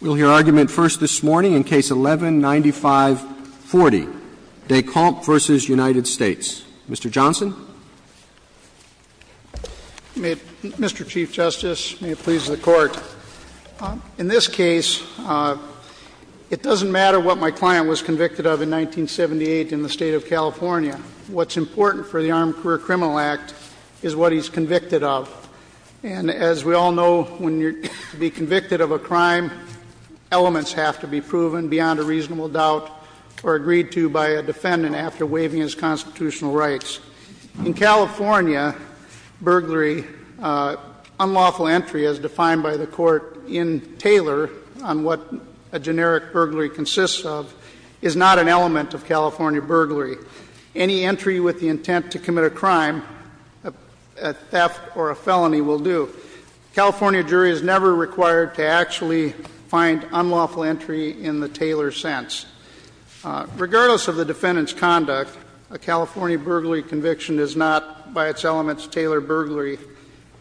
We'll hear argument first this morning in Case 11-9540, Decamps v. United States. Mr. Johnson. Mr. Chief Justice, may it please the Court. In this case, it doesn't matter what my client was convicted of in 1978 in the State of California. What's important for the Armed Career Criminal Act is what he's convicted of. And as we all know, to be convicted of a crime, elements have to be proven beyond a reasonable doubt or agreed to by a defendant after waiving his constitutional rights. In California, burglary, unlawful entry, as defined by the Court in Taylor on what a generic burglary consists of, is not an element of California burglary. Any entry with the intent to commit a crime, a theft or a felony, will do. A California jury is never required to actually find unlawful entry in the Taylor sense. Regardless of the defendant's conduct, a California burglary conviction is not, by its elements, Taylor burglary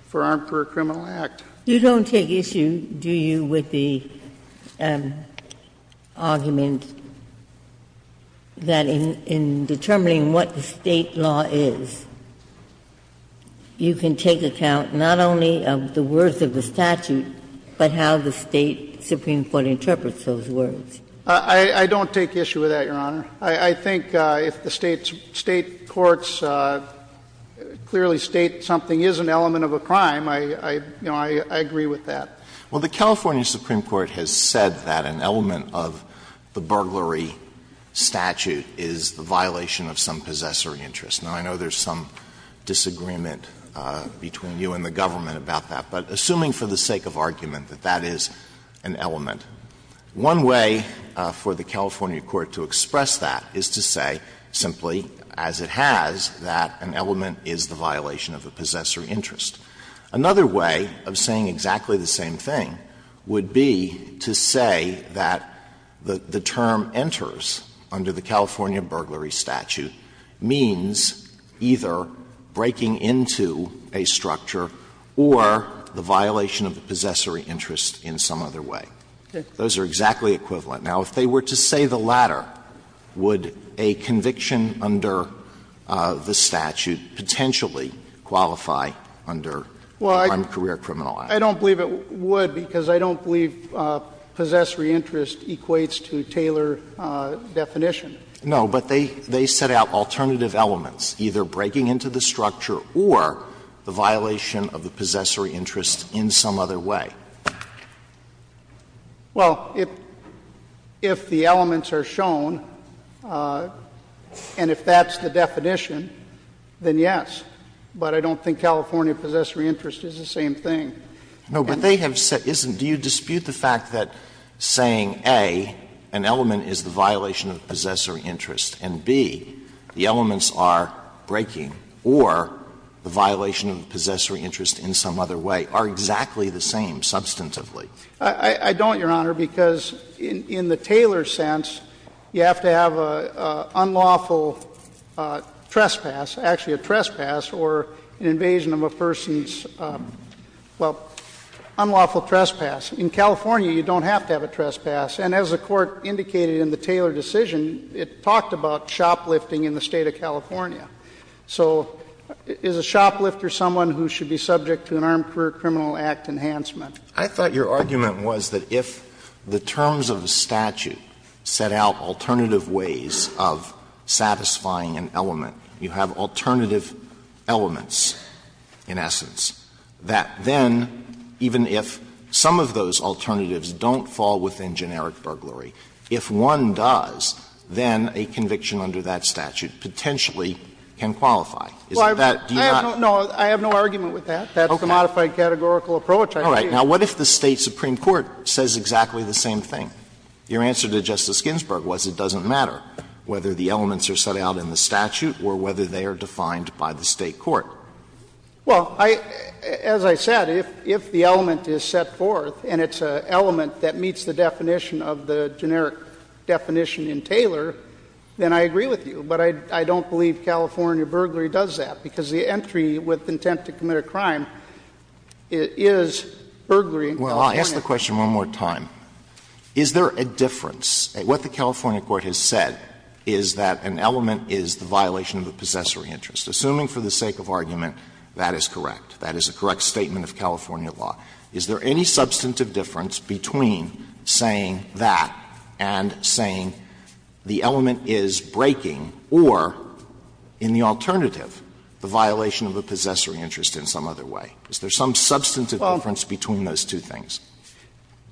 for Armed Career Criminal Act. Ginsburg. You don't take issue, do you, with the argument that in determining what the State law is, you can take account not only of the words of the statute, but how the State supreme court interprets those words? I don't take issue with that, Your Honor. I think if the State courts clearly state something is an element of a crime, I don't agree with that. Well, the California supreme court has said that an element of the burglary statute is the violation of some possessory interest. Now, I know there's some disagreement between you and the government about that. But assuming for the sake of argument that that is an element, one way for the California court to express that is to say simply, as it has, that an element is the violation of a possessory interest. Another way of saying exactly the same thing would be to say that the term enters under the California burglary statute means either breaking into a structure or the violation of a possessory interest in some other way. Those are exactly equivalent. Now, if they were to say the latter, would a conviction under the statute potentially qualify under the Crime and Career Criminal Act? Well, I don't believe it would because I don't believe possessory interest equates to Taylor definition. No, but they set out alternative elements, either breaking into the structure or the violation of the possessory interest in some other way. Well, if the elements are shown, and if that's the definition, then yes. But I don't think California possessory interest is the same thing. No, but they have said isn't do you dispute the fact that saying, A, an element is the violation of the possessory interest, and, B, the elements are breaking or the violation of the possessory interest in some other way are exactly the same substantively? I don't, Your Honor, because in the Taylor sense, you have to have an unlawful trespass, actually a trespass or an invasion of a person's, well, unlawful trespass. In California, you don't have to have a trespass. And as the Court indicated in the Taylor decision, it talked about shoplifting in the State of California. So is a shoplifter someone who should be subject to an Armed Career Criminal Act enhancement? I thought your argument was that if the terms of the statute set out alternative ways of satisfying an element, you have alternative elements, in essence, that then even if some of those alternatives don't fall within generic burglary, if one does, then a conviction under that statute potentially can qualify. Is that not do you not? No, I have no argument with that. That's the modified categorical approach I see. All right. Now, what if the State supreme court says exactly the same thing? Your answer to Justice Ginsburg was it doesn't matter whether the elements are set out in the statute or whether they are defined by the State court. Well, as I said, if the element is set forth and it's an element that meets the definition of the generic definition in Taylor, then I agree with you. But I don't believe California burglary does that, because the entry with intent to commit a crime is burglary in California. Well, I'll ask the question one more time. Is there a difference? What the California court has said is that an element is the violation of a possessory interest. Assuming for the sake of argument that is correct, that is a correct statement of California law, is there any substantive difference between saying that and saying the element is breaking or, in the alternative, the violation of a possessory interest in some other way? Is there some substantive difference between those two things?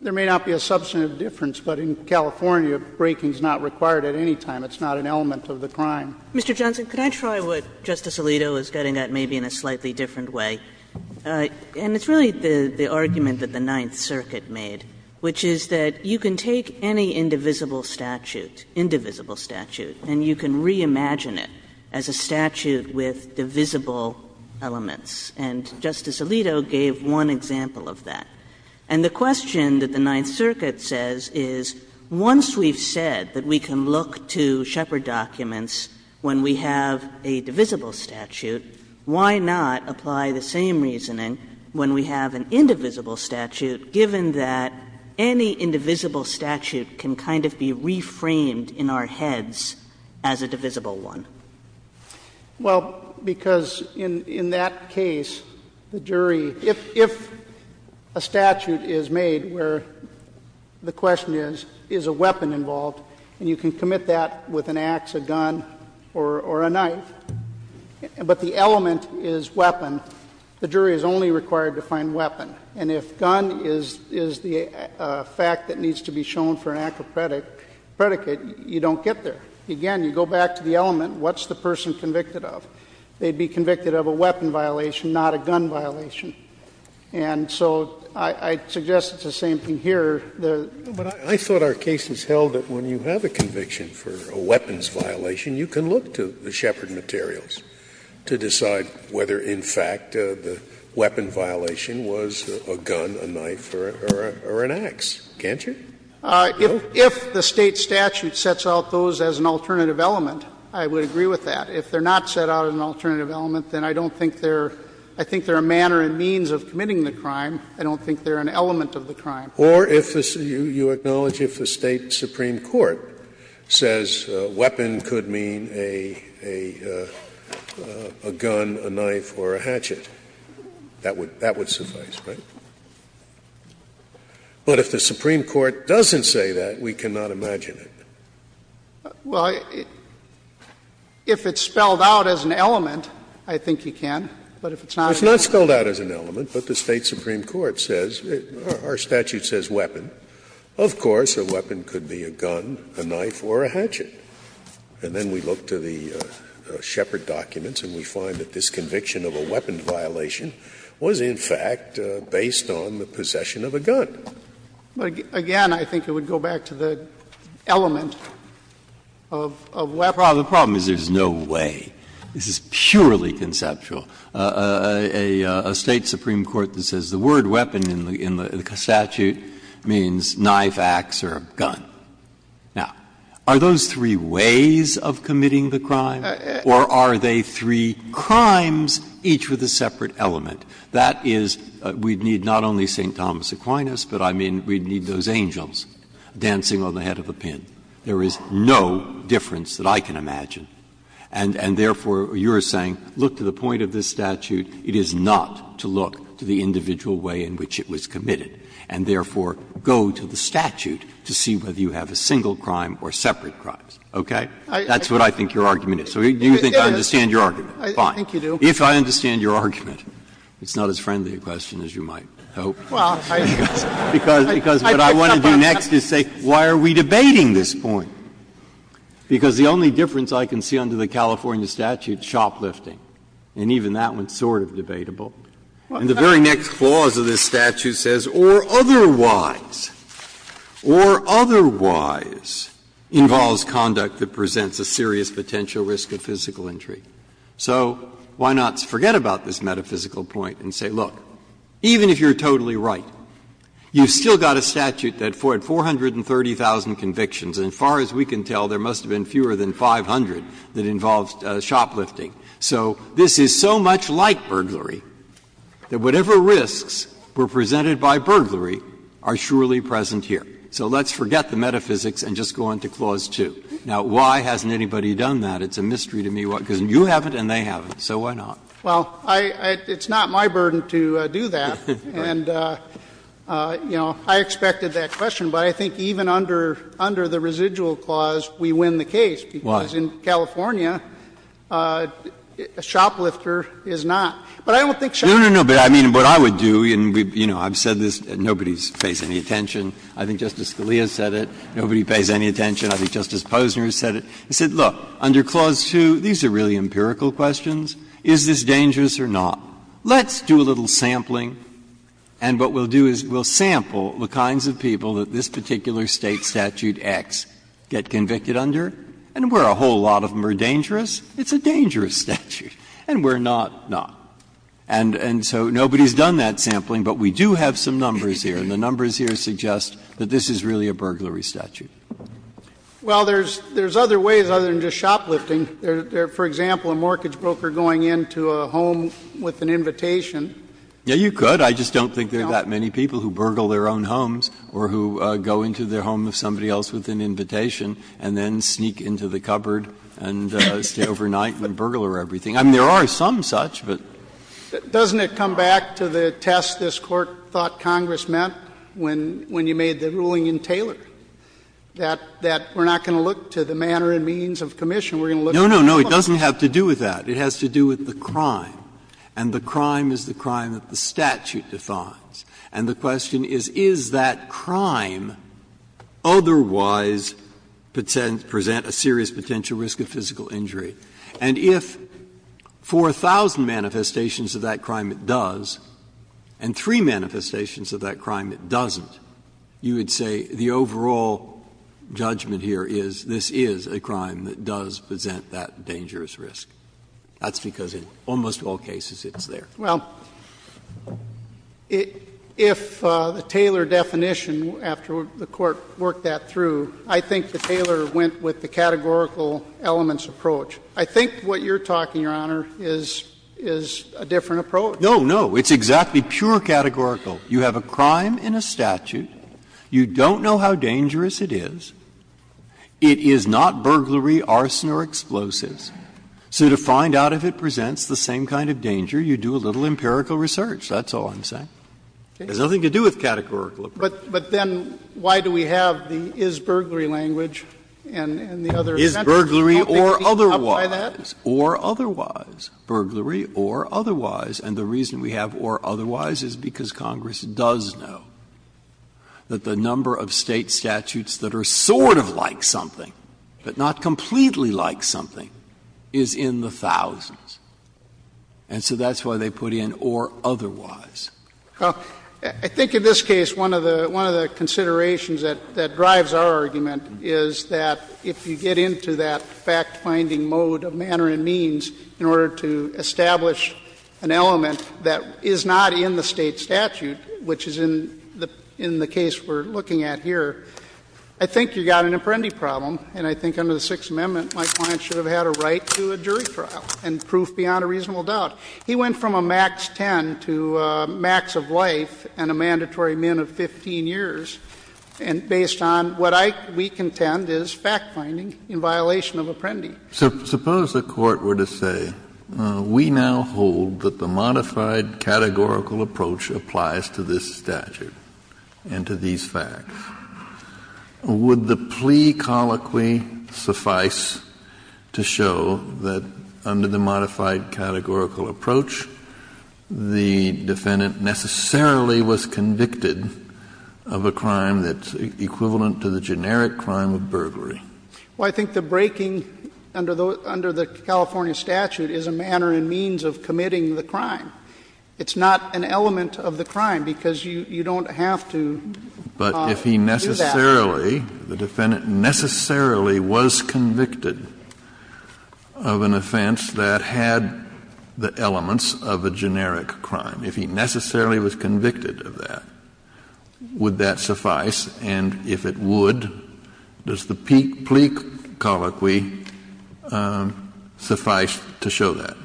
There may not be a substantive difference, but in California breaking is not required at any time. It's not an element of the crime. Mr. Johnson, could I try what Justice Alito is getting at maybe in a slightly different way? And it's really the argument that the Ninth Circuit made, which is that you can take any indivisible statute, indivisible statute, and you can reimagine it as a statute with divisible elements. And Justice Alito gave one example of that. And the question that the Ninth Circuit says is, once we've said that we can look to Shepard documents when we have a divisible statute, why not apply the same reasoning when we have an indivisible statute, given that any indivisible statute can kind of be reframed in our heads as a divisible one? Well, because in that case, the jury, if a statute is made where the question is, is a weapon involved, and you can commit that with an axe, a gun, or a knife, but the element is weapon, the jury is only required to find weapon. And if gun is the fact that needs to be shown for an act of predicate, you don't get there. Again, you go back to the element, what's the person convicted of? They'd be convicted of a weapon violation, not a gun violation. And so I suggest it's the same thing here. Scalia. But I thought our case has held that when you have a conviction for a weapons violation, you can look to the Shepard materials to decide whether, in fact, the weapon violation was a gun, a knife, or an axe, can't you? If the State statute sets out those as an alternative element, I would agree with that. If they're not set out as an alternative element, then I don't think they're – I think they're a manner and means of committing the crime. I don't think they're an element of the crime. Or if the – you acknowledge if the State supreme court says weapon could mean a gun, a knife, or a hatchet, that would suffice, right? But if the supreme court doesn't say that, we cannot imagine it. Well, if it's spelled out as an element, I think you can. But if it's not spelled out as an element, but the State supreme court says, our statute says weapon, of course a weapon could be a gun, a knife, or a hatchet. And then we look to the Shepard documents and we find that this conviction of a weapon violation was, in fact, based on the possession of a gun. But again, I think it would go back to the element of weapon. Breyer, the problem is there's no way. This is purely conceptual. A State supreme court that says the word weapon in the statute means knife, axe, or a gun. Now, are those three ways of committing the crime? Or are they three crimes, each with a separate element? That is, we'd need not only St. Thomas Aquinas, but I mean, we'd need those angels dancing on the head of a pin. There is no difference that I can imagine. And therefore, you're saying, look to the point of this statute. It is not to look to the individual way in which it was committed. And therefore, go to the statute to see whether you have a single crime or separate crimes, okay? That's what I think your argument is. Do you think I understand your argument? Fine. If I understand your argument, it's not as friendly a question as you might hope. Because what I want to do next is say, why are we debating this point? Because the only difference I can see under the California statute is shoplifting. And even that one is sort of debatable. And the very next clause of this statute says, or otherwise, or otherwise, involves conduct that presents a serious potential risk of physical injury. So why not forget about this metaphysical point and say, look, even if you're totally right, you've still got a statute that had 430,000 convictions, and as far as we can tell, there must have been fewer than 500 that involved shoplifting. So this is so much like burglary, that whatever risks were presented by burglary are surely present here. So let's forget the metaphysics and just go on to Clause 2. Now, why hasn't anybody done that? It's a mystery to me. Because you haven't and they haven't. So why not? Well, I — it's not my burden to do that. And, you know, I expected that question. But I think even under the residual clause, we win the case. Why? Because in California, a shoplifter is not. But I don't think shoplifters are dangerous. Breyer. No, no, no. But I mean, what I would do, and, you know, I've said this, and nobody pays any attention. I think Justice Scalia said it. Nobody pays any attention. I think Justice Posner said it. He said, look, under Clause 2, these are really empirical questions. Is this dangerous or not? Let's do a little sampling, and what we'll do is we'll sample the kinds of people that this particular State statute X get convicted under, and where a whole lot of them are dangerous, it's a dangerous statute, and where not, not. And so nobody's done that sampling, but we do have some numbers here, and the numbers here suggest that this is really a burglary statute. Well, there's other ways other than just shoplifting. There's, for example, a mortgage broker going into a home with an invitation. Yeah, you could. I just don't think there are that many people who burgle their own homes or who go into the home of somebody else with an invitation and then sneak into the cupboard and stay overnight and burglar everything. I mean, there are some such, but. Doesn't it come back to the test this Court thought Congress meant when you made the ruling in Taylor, that we're not going to look to the manner and means of commission, we're going to look to the elements? No, no, no. It doesn't have to do with that. It has to do with the crime. And the crime is the crime that the statute defines. And the question is, is that crime otherwise present a serious potential risk of physical injury? And if for a thousand manifestations of that crime it does and three manifestations of that crime it doesn't, you would say the overall judgment here is this is a crime that does present that dangerous risk. That's because in almost all cases it's there. Well, if the Taylor definition, after the Court worked that through, I think the Taylor went with the categorical elements approach. I think what you're talking, Your Honor, is a different approach. No, no. It's exactly pure categorical. You have a crime in a statute. You don't know how dangerous it is. It is not burglary, arson or explosives. So to find out if it presents the same kind of danger, you do a little empirical research. That's all I'm saying. It has nothing to do with categorical approach. But then why do we have the is burglary language and the other dimensions? Is burglary or otherwise, or otherwise, burglary or otherwise. And the reason we have or otherwise is because Congress does know that the number of State statutes that are sort of like something, but not completely like something is in the thousands. And so that's why they put in or otherwise. Well, I think in this case one of the considerations that drives our argument is that if you get into that fact-finding mode of manner and means in order to establish an element that is not in the State statute, which is in the case we're looking at here, I think you've got an Apprendi problem. And I think under the Sixth Amendment, my client should have had a right to a jury trial and proof beyond a reasonable doubt. He went from a max 10 to a max of life and a mandatory min of 15 years, and based on what we contend is fact-finding in violation of Apprendi. Suppose the Court were to say, we now hold that the modified categorical approach applies to this statute and to these facts. Would the plea colloquy suffice to show that under the modified categorical approach, the defendant necessarily was convicted of a crime that's equivalent to the generic crime of burglary? Well, I think the breaking under the California statute is a manner and means of committing the crime. It's not an element of the crime, because you don't have to. But if he necessarily, the defendant necessarily was convicted of an offense that had the elements of a generic crime, if he necessarily was convicted of that, would that suffice? And if it would, does the plea colloquy suffice to show that?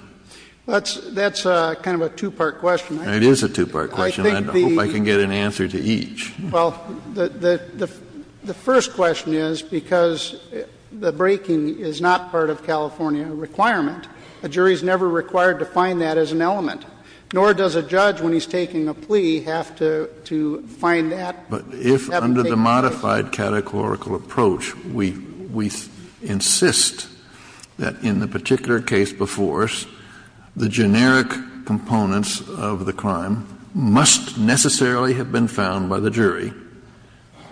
That's kind of a two-part question. It is a two-part question. I hope I can get an answer to each. Well, the first question is, because the breaking is not part of California requirement, a jury is never required to find that as an element, nor does a judge when he's taking a plea have to find that. But if under the modified categorical approach, we insist that in the particular case before us, the generic components of the crime must necessarily have been found by the jury,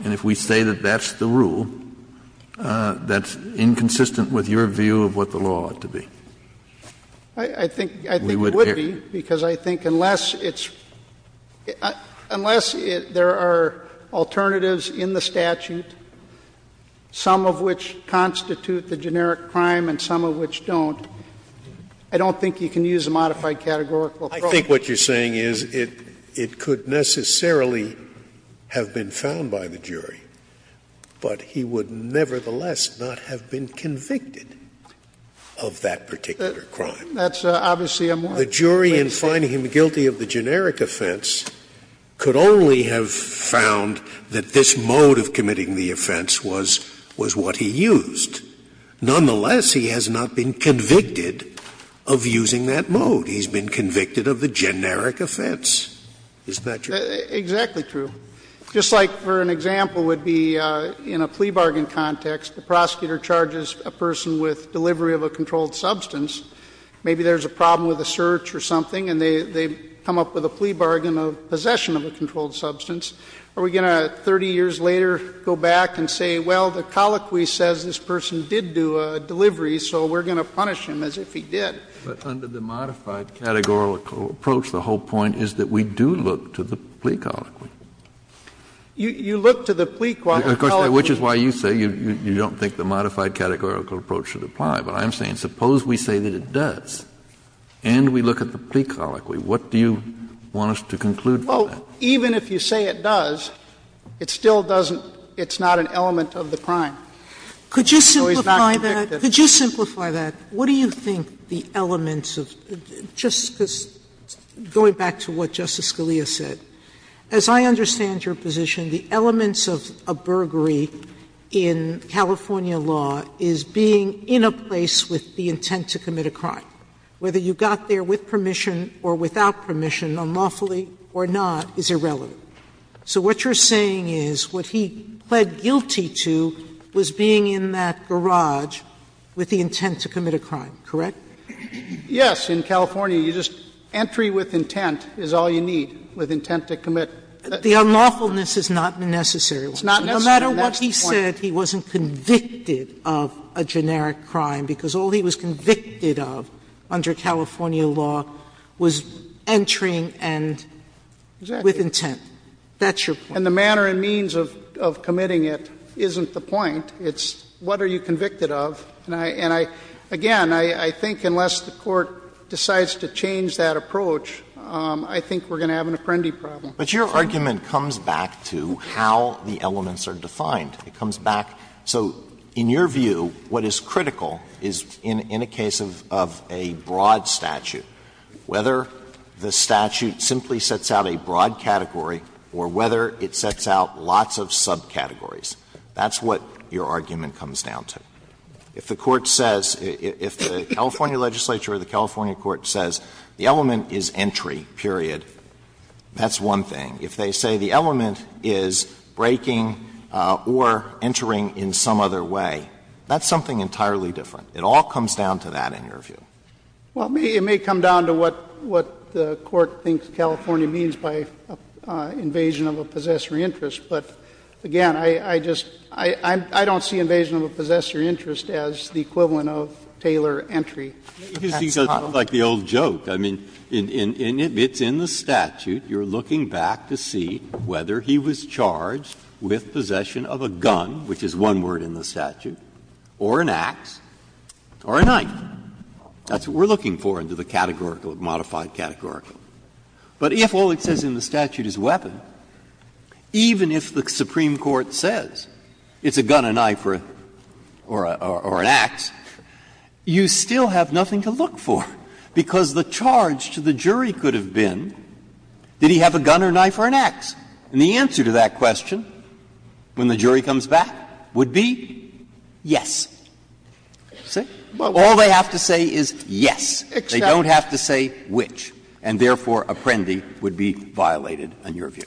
and if we say that that's the rule, that's inconsistent with your view of what the law ought to be. I think it would be, because I think unless it's — unless there are alternatives in the statute, some of which constitute the generic crime and some of which don't, I don't think you can use a modified categorical approach. I think what you're saying is it could necessarily have been found by the jury, but he would nevertheless not have been convicted of that particular crime. That's obviously a more basic question. The jury in finding him guilty of the generic offense could only have found that this mode of committing the offense was what he used. Nonetheless, he has not been convicted of using that mode. He's been convicted of the generic offense. Is that true? Exactly true. Just like for an example would be in a plea bargain context, the prosecutor charges a person with delivery of a controlled substance. Maybe there's a problem with a search or something and they come up with a plea bargain of possession of a controlled substance. Are we going to, 30 years later, go back and say, well, the colloquy says this person did do a delivery, so we're going to punish him as if he did? But under the modified categorical approach, the whole point is that we do look to the plea colloquy. You look to the plea colloquy. Of course, which is why you say you don't think the modified categorical approach should apply. But I'm saying suppose we say that it does and we look at the plea colloquy, what do you want us to conclude from that? Well, even if you say it does, it still doesn't – it's not an element of the crime. So he's not convicted. Could you simplify that? What do you think the elements of – just going back to what Justice Scalia said. As I understand your position, the elements of a burglary in California law is being in a place with the intent to commit a crime. Whether you got there with permission or without permission, unlawfully or not, is irrelevant. So what you're saying is what he pled guilty to was being in that garage with the intent to commit a crime, correct? Yes. In California, you just – entry with intent is all you need, with intent to commit a crime. The unlawfulness is not necessary. It's not necessary. That's the point. No matter what he said, he wasn't convicted of a generic crime, because all he was convicted of under California law was entering and with intent. That's your point. And the manner and means of committing it isn't the point. It's what are you convicted of. And I – and I – again, I think unless the Court decides to change that approach, I think we're going to have an apprendi problem. But your argument comes back to how the elements are defined. It comes back – so in your view, what is critical is in a case of a broad statute, whether the statute simply sets out a broad category or whether it sets out lots of subcategories. That's what your argument comes down to. If the Court says – if the California legislature or the California court says the element is entry, period, that's one thing. If they say the element is breaking or entering in some other way, that's something entirely different. It all comes down to that in your view. Well, it may come down to what the Court thinks California means by invasion of a possessory interest. But again, I just – I don't see invasion of a possessory interest as the equivalent That's not what I'm saying. It's like the old joke. I mean, it's in the statute. You're looking back to see whether he was charged with possession of a gun, which is one word in the statute, or an ax, or a knife. That's what we're looking for under the categorical, modified categorical. But if all it says in the statute is weapon, even if the Supreme Court says it's a gun, a knife, or an ax, you still have nothing to look for, because the charge to the jury could have been, did he have a gun or a knife or an ax? And the answer to that question, when the jury comes back, would be yes. See? All they have to say is yes. They don't have to say which. And therefore, Apprendi would be violated in your view.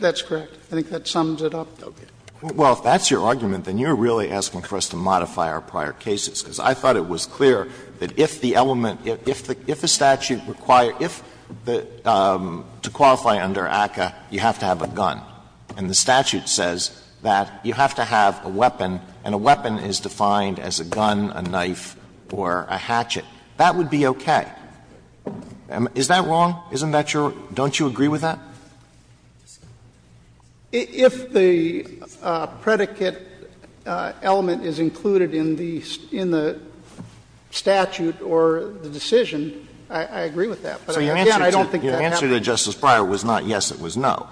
That's correct. I think that sums it up. Well, if that's your argument, then you're really asking for us to modify our prior cases, because I thought it was clear that if the element – if the statute required if the – to qualify under ACCA, you have to have a gun, and the statute says that you have to have a weapon, and a weapon is defined as a gun, a knife, or a hatchet, that would be okay. Is that wrong? Isn't that your – don't you agree with that? If the predicate element is included in the statute or the decision, I agree with that. But again, I don't think that happens. So your answer to Justice Breyer was not yes, it was no.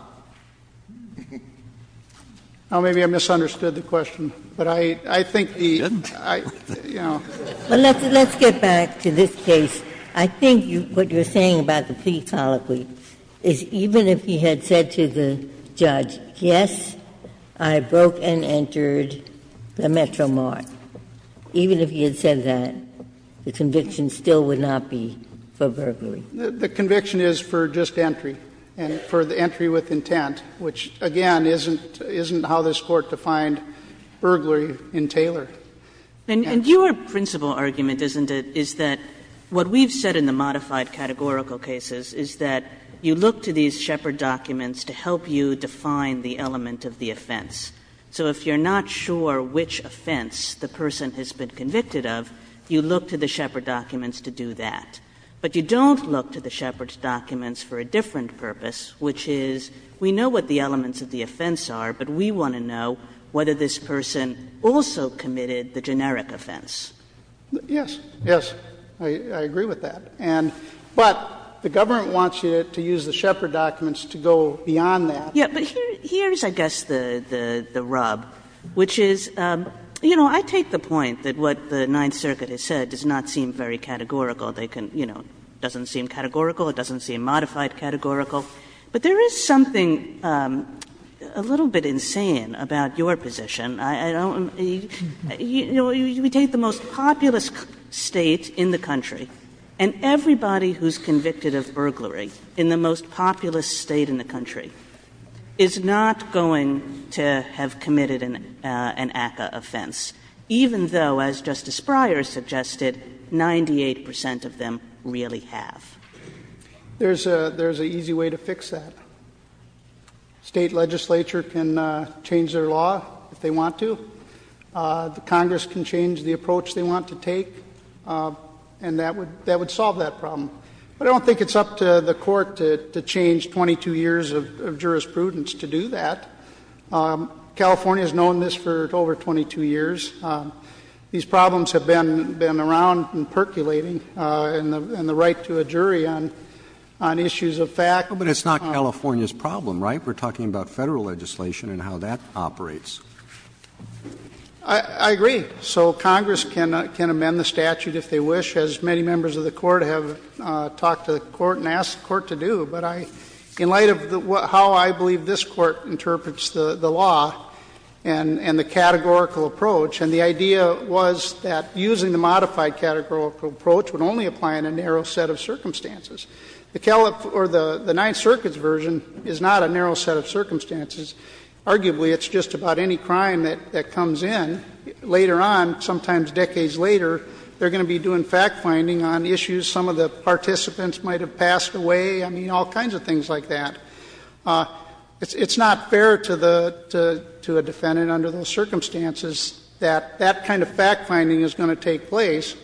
Well, maybe I misunderstood the question. But I think the – you know. Well, let's get back to this case. I think what you're saying about the plea colloquy is even if he had said to the judge, yes, I broke and entered the Metro Mart, even if he had said that, the conviction still would not be for burglary. The conviction is for just entry, and for the entry with intent, which, again, isn't how this Court defined burglary in Taylor. And your principal argument, isn't it, is that what we've said in the modified categorical cases is that you look to these Shepard documents to help you define the element of the offense. So if you're not sure which offense the person has been convicted of, you look to the Shepard documents to do that. But you don't look to the Shepard documents for a different purpose, which is we know what the elements of the offense are, but we want to know whether this person also committed the generic offense. Yes. Yes, I agree with that. And – but the government wants you to use the Shepard documents to go beyond that. Yeah, but here's, I guess, the rub, which is, you know, I take the point that what the Ninth Circuit has said does not seem very categorical. They can, you know, it doesn't seem categorical, it doesn't seem modified categorical. But there is something a little bit insane about your position. I don't – you know, we take the most populous State in the country, and everybody who's convicted of burglary in the most populous State in the country is not going to have committed an ACCA offense, even though, as Justice Breyer suggested, 98 percent of them really have. There's a – there's an easy way to fix that. State legislature can change their law if they want to. The Congress can change the approach they want to take, and that would – that would solve that problem. But I don't think it's up to the Court to change 22 years of jurisprudence to do that. California has known this for over 22 years. These problems have been around and percolating, and the right to a jury on issues of fact — But it's not California's problem, right? We're talking about Federal legislation and how that operates. I agree. So Congress can amend the statute if they wish. As many members of the Court have talked to the Court and asked the Court to do. But I – in light of how I believe this Court interprets the law and the categorical approach, and the idea was that using the modified categorical approach would only apply in a narrow set of circumstances. The Calif – or the Ninth Circuit's version is not a narrow set of circumstances. Arguably, it's just about any crime that comes in, later on, sometimes decades later, they're going to be doing fact-finding on issues some of the participants might have passed away. I mean, all kinds of things like that. It's not fair to the – to a defendant under those circumstances that that kind of fact-finding is going to take place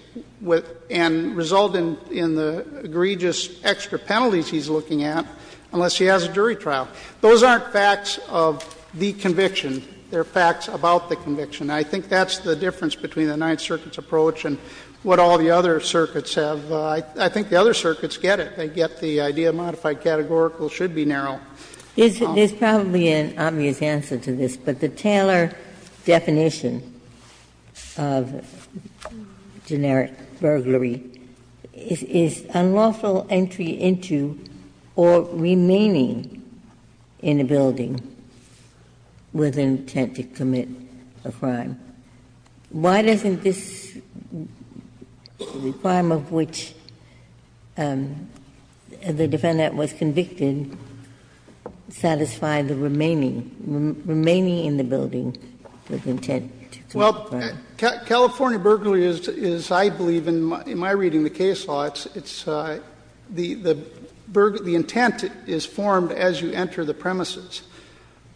and result in the egregious extra penalties he's looking at unless he has a jury trial. Those aren't facts of the conviction. They're facts about the conviction. I think that's the difference between the Ninth Circuit's approach and what all the other circuits have. I think the other circuits get it. They get the idea of modified categorical should be narrow. Ginsburg. There's probably an obvious answer to this, but the Taylor definition of generic burglary is unlawful entry into or remaining in a building with intent to commit a crime. Why doesn't this requirement of which the defendant was convicted satisfy the remaining – remaining in the building with intent to commit a crime? Well, California burglary is, I believe, in my reading of the case law, it's – the intent is formed as you enter the premises,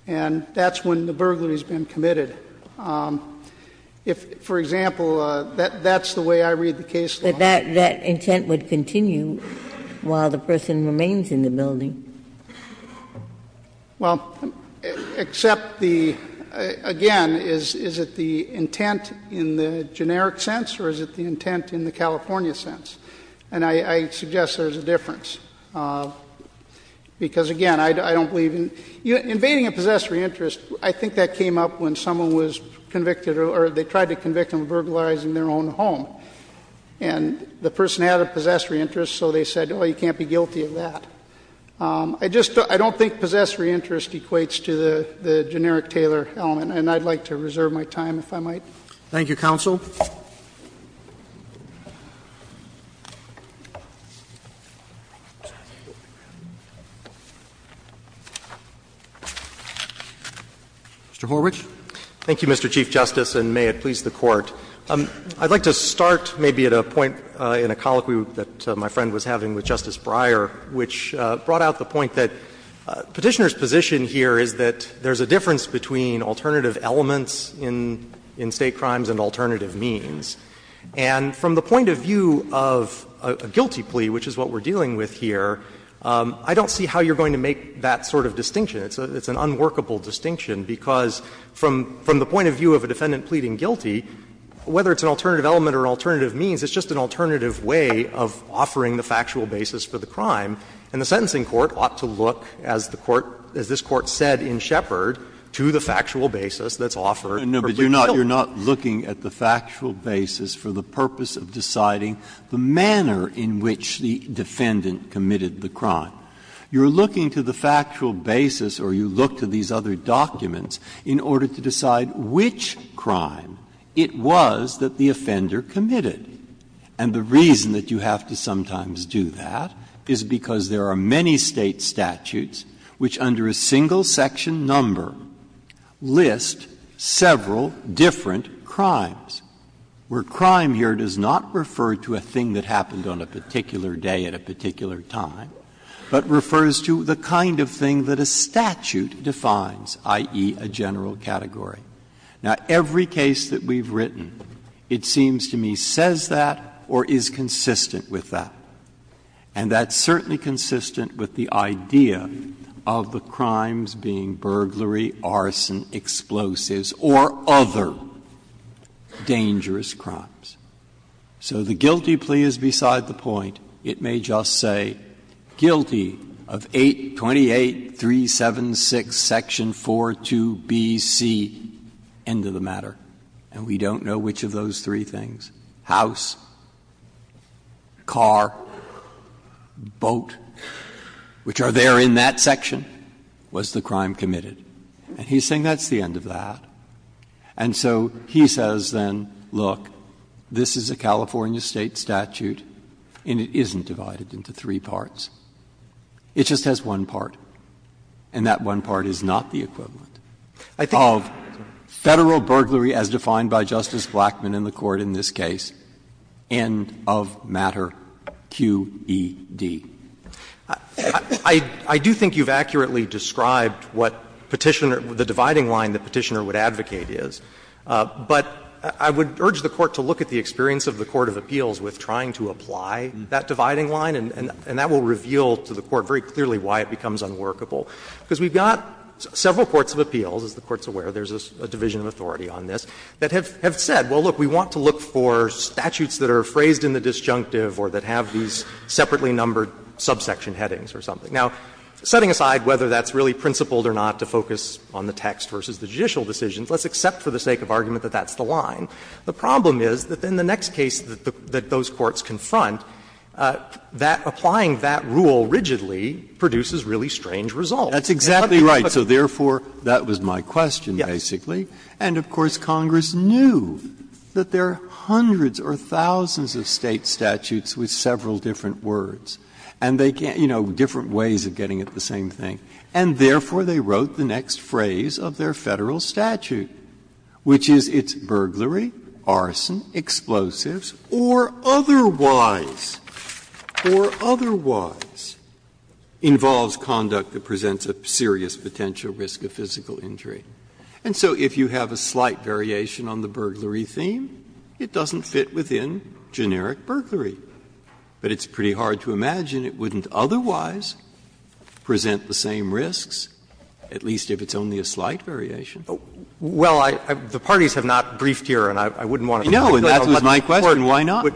and that's when the burglary has been committed. If, for example, that's the way I read the case law. But that intent would continue while the person remains in the building. Well, except the – again, is it the intent in the generic sense or is it the intent in the California sense? And I suggest there's a difference, because, again, I don't believe in – invading a possessory interest, I think that came up when someone was convicted or they tried to convict them of burglarizing their own home, and the person had a possessory interest, so they said, oh, you can't be guilty of that. I just don't – I don't think possessory interest equates to the generic Taylor element, and I'd like to reserve my time, if I might. Thank you, counsel. Mr. Horwich. Thank you, Mr. Chief Justice, and may it please the Court. I'd like to start maybe at a point in a colloquy that my friend was having with Justice Breyer, which brought out the point that Petitioner's position here is that there's a difference between alternative elements in State crimes and alternative means. And from the point of view of a guilty plea, which is what we're dealing with here, I don't see how you're going to make that sort of distinction. It's an unworkable distinction, because from the point of view of a defendant pleading guilty, whether it's an alternative element or alternative means, it's just an alternative way of offering the factual basis for the crime. And the sentencing court ought to look, as the court – as this Court said in Shepard, to the factual basis that's offered for plea guilty. Breyer, but you're not looking at the factual basis for the purpose of deciding the manner in which the defendant committed the crime. You're looking to the factual basis, or you look to these other documents, in order to decide which crime it was that the offender committed. And the reason that you have to sometimes do that is because there are many State statutes which, under a single section number, list several different crimes, where crime here does not refer to a thing that happened on a particular day at a particular time, but refers to the kind of thing that a statute defines, i.e., a general category. Now, every case that we've written, it seems to me, says that or is consistent with that. And that's certainly consistent with the idea of the crimes being burglary, arson, explosives, or other dangerous crimes. So the guilty plea is beside the point. It may just say guilty of 828.376, Section 4.2bc, end of the matter. And we don't know which of those three things, house, car, boat, which are there in that section, was the crime committed. And he's saying that's the end of that. And so he says then, look, this is a California State statute, and it is a California State statute, but it isn't divided into three parts. It just has one part, and that one part is not the equivalent of Federal burglary as defined by Justice Blackman in the Court in this case, end of matter, QED. I do think you've accurately described what Petitioner, the dividing line that Petitioner would advocate is. But I would urge the Court to look at the experience of the court of appeals with regard to trying to apply that dividing line, and that will reveal to the Court very clearly why it becomes unworkable. Because we've got several courts of appeals, as the Court's aware, there's a division of authority on this, that have said, well, look, we want to look for statutes that are phrased in the disjunctive or that have these separately numbered subsection headings or something. Now, setting aside whether that's really principled or not to focus on the text versus the judicial decisions, let's accept for the sake of argument that that's the line. The problem is that in the next case that those courts confront, that applying that rule rigidly produces really strange results. Breyer, That's exactly right. So therefore, that was my question, basically. And, of course, Congress knew that there are hundreds or thousands of State statutes with several different words, and they can't, you know, different ways of getting it the same thing. And therefore, they wrote the next phrase of their Federal statute, which is it's not the case that burglary, arson, explosives, or otherwise, or otherwise, involves conduct that presents a serious potential risk of physical injury. And so if you have a slight variation on the burglary theme, it doesn't fit within generic burglary. But it's pretty hard to imagine it wouldn't otherwise present the same risks, at least if it's only a slight variation. Well, I — the parties have not briefed here, and I wouldn't want to put it in court. No, and that was my question. Why not?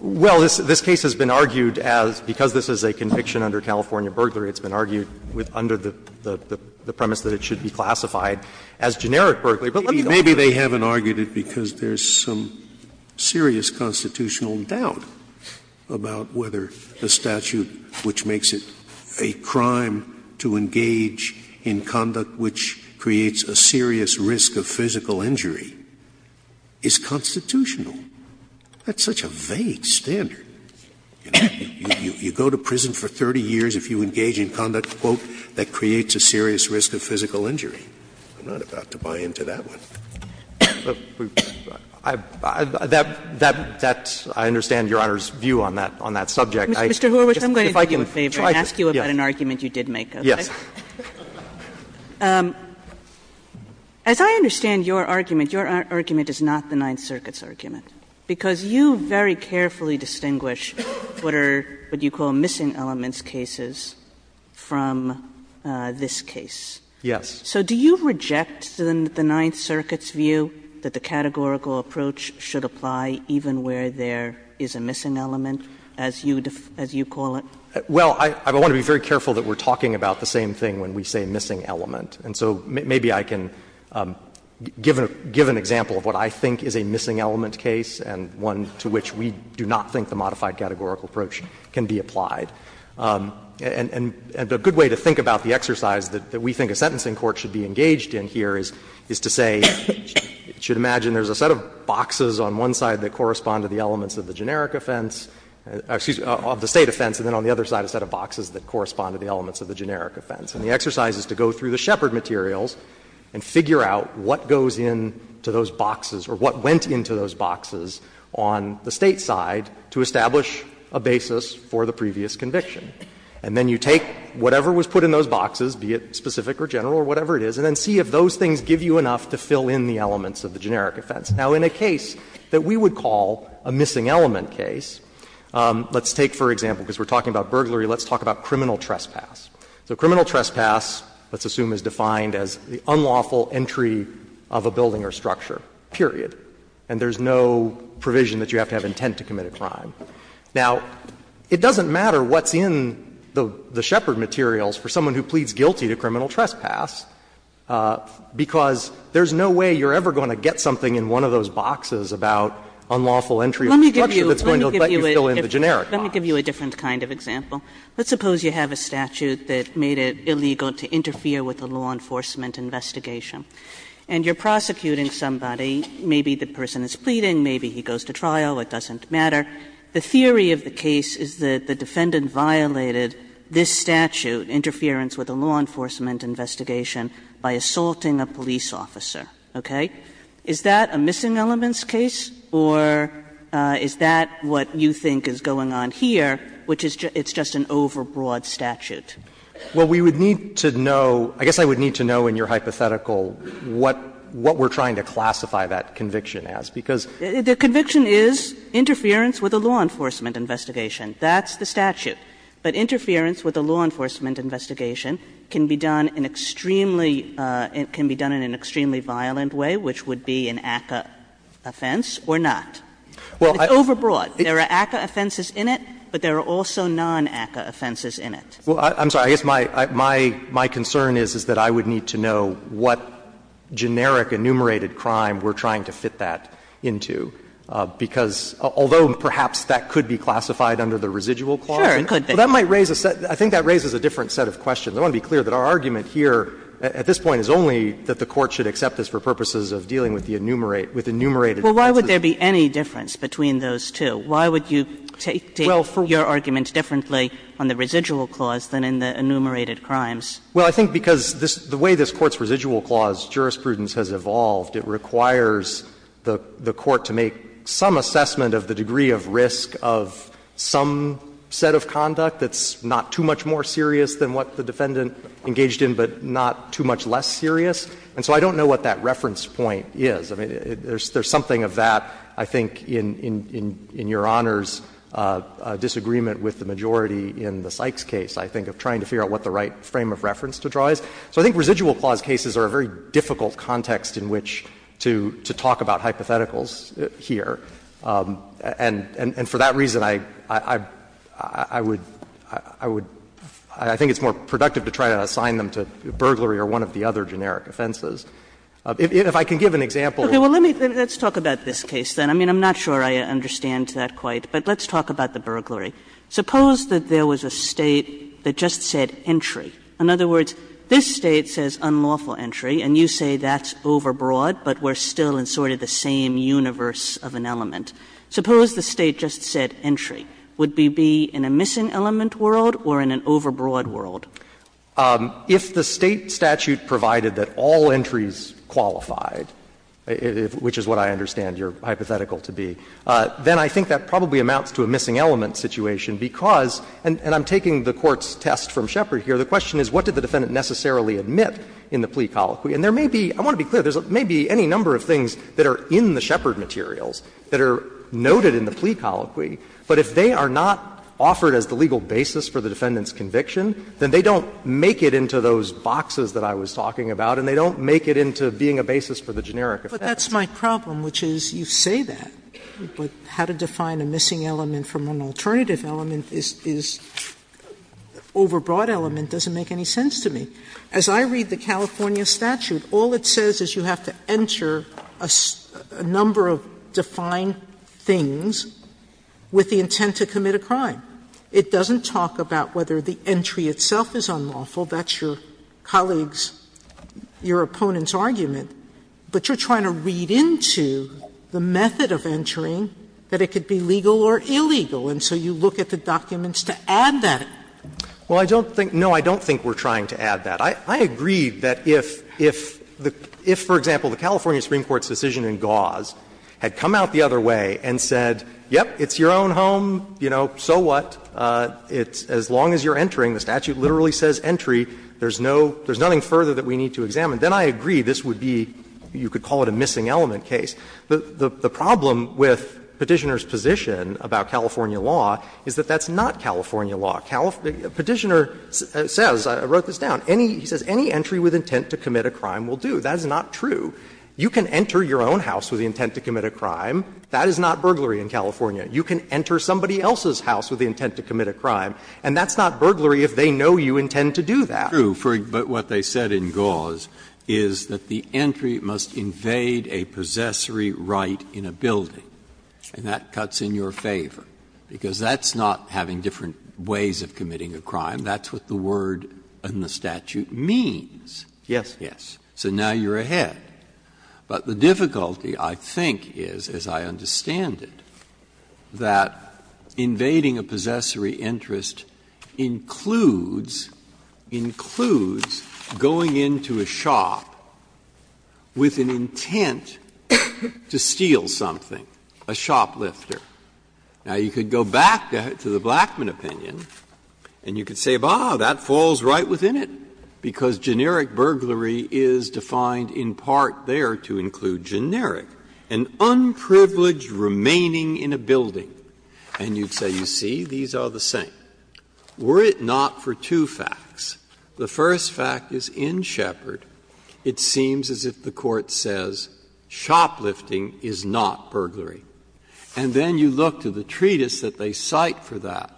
Well, this case has been argued as, because this is a conviction under California burglary, it's been argued under the premise that it should be classified as generic burglary. But let me go back to the other point. Maybe they haven't argued it because there's some serious constitutional doubt about whether the statute which makes it a crime to engage in conduct which creates a serious risk of physical injury is constitutional. That's such a vague standard. You go to prison for 30 years if you engage in conduct, quote, that creates a serious risk of physical injury. I'm not about to buy into that one. I understand Your Honor's view on that subject. Mr. Horwich, I'm going to do you a favor and ask you about an argument you did make. Yes. As I understand your argument, your argument is not the Ninth Circuit's argument, because you very carefully distinguish what are what you call missing elements cases from this case. Yes. So do you reject the Ninth Circuit's view that the categorical approach should apply even where there is a missing element, as you call it? Well, I want to be very careful that we're talking about the same thing when we say missing element. And so maybe I can give an example of what I think is a missing element case and one to which we do not think the modified categorical approach can be applied. And a good way to think about the exercise that we think a sentencing court should be engaged in here is to say, you should imagine there's a set of boxes on one side that correspond to the elements of the generic offense, excuse me, of the State side, and on the other side a set of boxes that correspond to the elements of the generic offense, and the exercise is to go through the Shepard materials and figure out what goes into those boxes or what went into those boxes on the State side to establish a basis for the previous conviction. And then you take whatever was put in those boxes, be it specific or general or whatever it is, and then see if those things give you enough to fill in the elements of the generic offense. Now, in a case that we would call a missing element case, let's take, for example, because we're talking about burglary, let's talk about criminal trespass. So criminal trespass, let's assume, is defined as the unlawful entry of a building or structure, period. And there's no provision that you have to have intent to commit a crime. Now, it doesn't matter what's in the Shepard materials for someone who pleads guilty to criminal trespass, because there's no way you're ever going to get something in one of those boxes about unlawful entry of a structure that's going to let you fill in the generic box. Kagan. Kagan. Let me give you a different kind of example. Let's suppose you have a statute that made it illegal to interfere with a law enforcement investigation. And you're prosecuting somebody, maybe the person is pleading, maybe he goes to trial, it doesn't matter. The theory of the case is that the defendant violated this statute, interference with a law enforcement investigation, by assaulting a police officer, okay? Is that a missing elements case, or is that what you think is going on here, which is it's just an overbroad statute? Well, we would need to know, I guess I would need to know in your hypothetical what we're trying to classify that conviction as, because. The conviction is interference with a law enforcement investigation. That's the statute. But interference with a law enforcement investigation can be done in extremely It can be done in an extremely violent way, which would be an ACCA offense or not. It's overbroad. There are ACCA offenses in it, but there are also non-ACCA offenses in it. Well, I'm sorry. I guess my concern is that I would need to know what generic enumerated crime we're trying to fit that into, because although perhaps that could be classified under the residual clause. Sure, it could be. That might raise a set of questions. I think that raises a different set of questions. I want to be clear that our argument here at this point is only that the Court should accept this for purposes of dealing with the enumerated, with enumerated offenses. Well, why would there be any difference between those two? Why would you take your argument differently on the residual clause than in the enumerated crimes? Well, I think because the way this Court's residual clause jurisprudence has evolved, it requires the Court to make some assessment of the degree of risk of some set of conduct that's not too much more serious than what the defendant engaged in, but not too much less serious. And so I don't know what that reference point is. I mean, there's something of that, I think, in Your Honor's disagreement with the majority in the Sykes case, I think, of trying to figure out what the right frame of reference to draw is. So I think residual clause cases are a very difficult context in which to talk about hypotheticals here. And for that reason, I would, I would, I think it's more productive to try to assign them to burglary or one of the other generic offenses. If I can give an example. Well, let me, let's talk about this case then. I mean, I'm not sure I understand that quite, but let's talk about the burglary. Suppose that there was a State that just said entry. In other words, this State says unlawful entry, and you say that's overbroad, but we're still in sort of the same universe of an element. Suppose the State just said entry. Would we be in a missing element world or in an overbroad world? If the State statute provided that all entries qualified, which is what I understand your hypothetical to be, then I think that probably amounts to a missing element situation, because, and I'm taking the Court's test from Shepard here, the question is what did the defendant necessarily admit in the plea colloquy. And there may be, I want to be clear, there may be any number of things that are in the Shepard materials that are noted in the plea colloquy, but if they are not offered as the legal basis for the defendant's conviction, then they don't make it into those boxes that I was talking about, and they don't make it into being a basis for the generic offense. Sotomayor, but that's my problem, which is you say that, but how to define a missing element from an alternative element is, is overbroad element doesn't make any sense. As I read the California statute, all it says is you have to enter a number of defined things with the intent to commit a crime. It doesn't talk about whether the entry itself is unlawful. That's your colleague's, your opponent's argument. But you're trying to read into the method of entering that it could be legal or illegal, and so you look at the documents to add that. Well, I don't think no, I don't think we're trying to add that. I agree that if, for example, the California Supreme Court's decision in Gauze had come out the other way and said, yep, it's your own home, you know, so what, as long as you're entering, the statute literally says entry, there's no, there's nothing further that we need to examine, then I agree this would be, you could call it a missing element case. The problem with Petitioner's position about California law is that that's not California law. Petitioner says, I wrote this down, any, he says, any entry with intent to commit a crime will do. That is not true. You can enter your own house with the intent to commit a crime. That is not burglary in California. You can enter somebody else's house with the intent to commit a crime, and that's not burglary if they know you intend to do that. Breyer, but what they said in Gauze is that the entry must invade a possessory right in a building, and that cuts in your favor, because that's not having different ways of committing a crime. That's what the word in the statute means. Yes? Yes. So now you're ahead. But the difficulty, I think, is, as I understand it, that invading a possessory interest includes, includes going into a shop with an intent to steal something, a shoplifter. Now, you could go back to the Blackman opinion and you could say, bah, that falls right within it, because generic burglary is defined in part there to include generic, an unprivileged remaining in a building. And you'd say, you see, these are the same. Were it not for two facts, the first fact is in Shepard, it seems as if the Court says shoplifting is not burglary. And then you look to the treatise that they cite for that,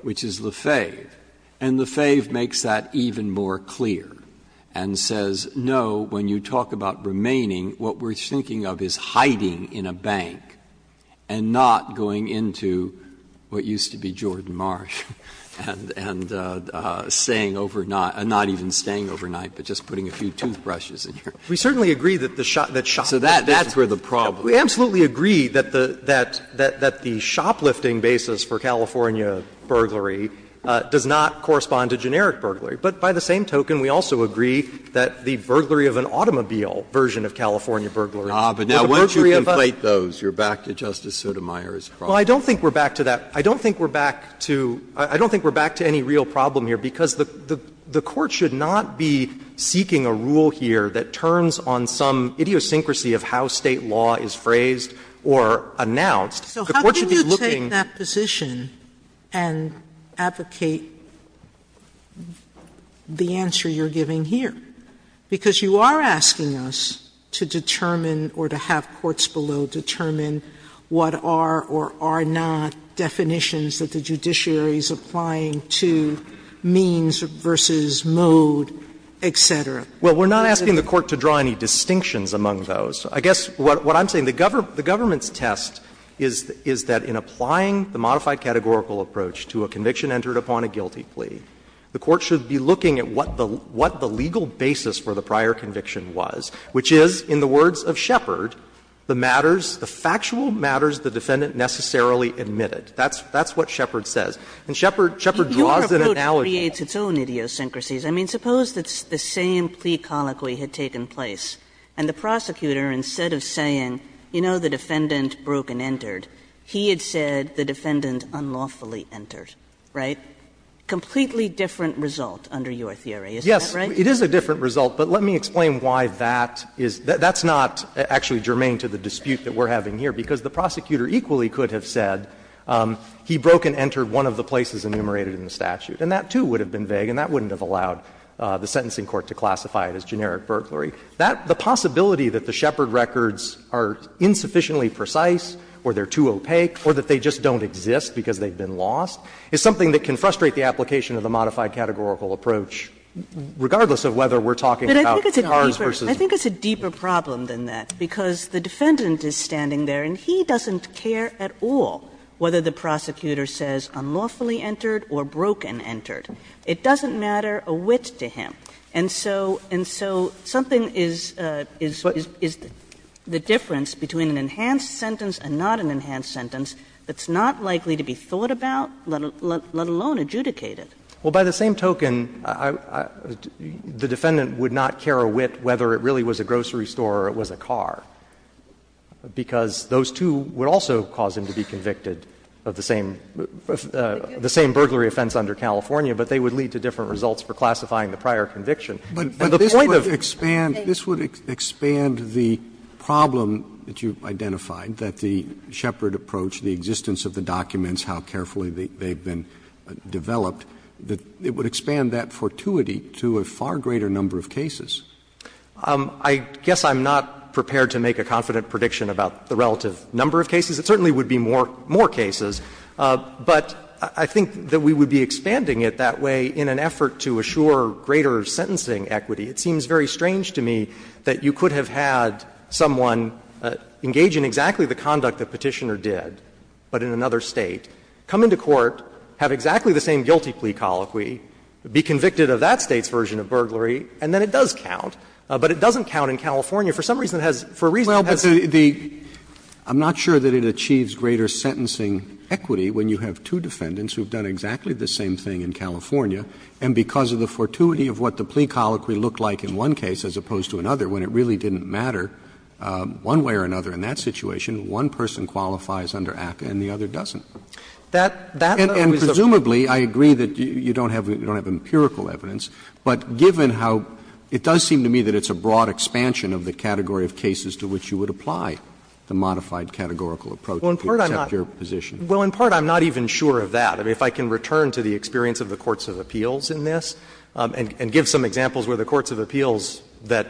which is Lefebvre, and Lefebvre makes that even more clear and says, no, when you talk about remaining, what we're thinking of is hiding in a bank and not going into what used to be Jordan Marsh and staying overnight, not even staying overnight, but just putting a few toothbrushes in your mouth. So that's where the problem is. We absolutely agree that the shoplifting basis for California burglary does not correspond to generic burglary, but by the same token, we also agree that the burglary of an automobile version of California burglary or the burglary of a burglary of a car is a problem. Well, I don't think we're back to that. I don't think we're back to any real problem here, because the Court should not be seeking a rule here that turns on some idiosyncrasy of how State law is phrased or announced. The Court should be looking at the question of whether or not it's a burglary Sotomayor, you are asking us to determine or to have courts below determine what are or are not definitions that the judiciary is applying to means versus mode, et cetera. Well, we're not asking the Court to draw any distinctions among those. I guess what I'm saying, the government's test is that in applying the modified categorical approach to a conviction entered upon a guilty plea, the Court should be looking at what the legal basis for the prior conviction was, which is, in the words of Shepard, the matters, the factual matters the defendant necessarily admitted. That's what Shepard says. And Shepard draws an analogy. Kagan. And that creates its own idiosyncrasies. I mean, suppose it's the same plea colloquy had taken place, and the prosecutor, instead of saying, you know, the defendant broke and entered, he had said the defendant unlawfully entered, right? Completely different result under your theory, isn't that right? Yes. It is a different result. But let me explain why that is. That's not actually germane to the dispute that we're having here, because the prosecutor equally could have said, he broke and entered one of the places enumerated in the statute. And that, too, would have been vague, and that wouldn't have allowed the sentencing court to classify it as generic burglary. That the possibility that the Shepard records are insufficiently precise or they're too opaque or that they just don't exist because they've been lost is something that can frustrate the application of the modified categorical approach, regardless of whether we're talking about ours versus ours. Kagan. I think it's a deeper problem than that, because the defendant is standing there and he doesn't care at all whether the prosecutor says unlawfully entered or broke and entered. It doesn't matter a whit to him. And so so something is the difference between an enhanced sentence and not an enhanced sentence that's not likely to be thought about, let alone adjudicated. Well, by the same token, the defendant would not care a whit whether it really was a grocery store or it was a car, because those two would also cause him to be convicted of the same, the same burglary offense under California, but they would lead to different results for classifying the prior conviction. And the point of the case is that the Shepard approach, the existence of the documents, how carefully they've been developed, that it would expand that fortuity to a far greater number of cases. I guess I'm not prepared to make a confident prediction about the relative number of cases. It certainly would be more cases, but I think that we would be expanding it that way in an effort to assure greater sentencing equity. It seems very strange to me that you could have had someone engage in exactly the conduct that Petitioner did, but in another State, come into court, have exactly the same guilty plea colloquy, be convicted of that State's version of burglary, and then it does count, but it doesn't count in California. For some reason it has, for a reason it has. Roberts. I'm not sure that it achieves greater sentencing equity when you have two defendants who have done exactly the same thing in California, and because of the fortuity of what the plea colloquy looked like in one case as opposed to another, when it really didn't matter one way or another in that situation, one person qualifies under ACCA and the other doesn't. And presumably, I agree that you don't have empirical evidence, but given how it does seem to me that it's a broad expansion of the category of cases to which you would apply the modified categorical approach to accept your position. Well, in part I'm not even sure of that. If I can return to the experience of the courts of appeals in this and give some examples, they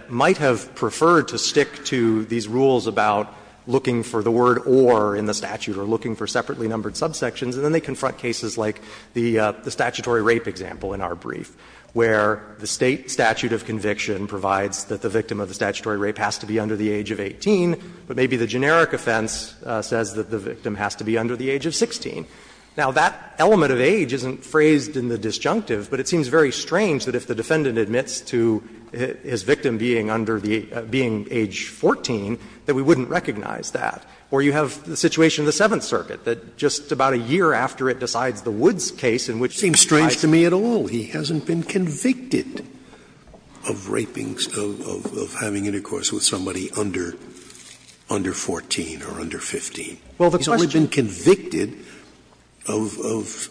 prefer to stick to these rules about looking for the word or in the statute or looking for separately numbered subsections, and then they confront cases like the statutory rape example in our brief, where the State statute of conviction provides that the victim of the statutory rape has to be under the age of 18, but maybe the generic offense says that the victim has to be under the age of 16. Now, that element of age isn't phrased in the disjunctive, but it seems very strange that if the defendant admits to his victim being under the age, being age 14, that we wouldn't recognize that. Or you have the situation in the Seventh Circuit, that just about a year after it decides the Woods case, in which it applies. Sotomayor, it seems strange to me at all, he hasn't been convicted of rapings, of having intercourse with somebody under 14 or under 15. He's only been convicted of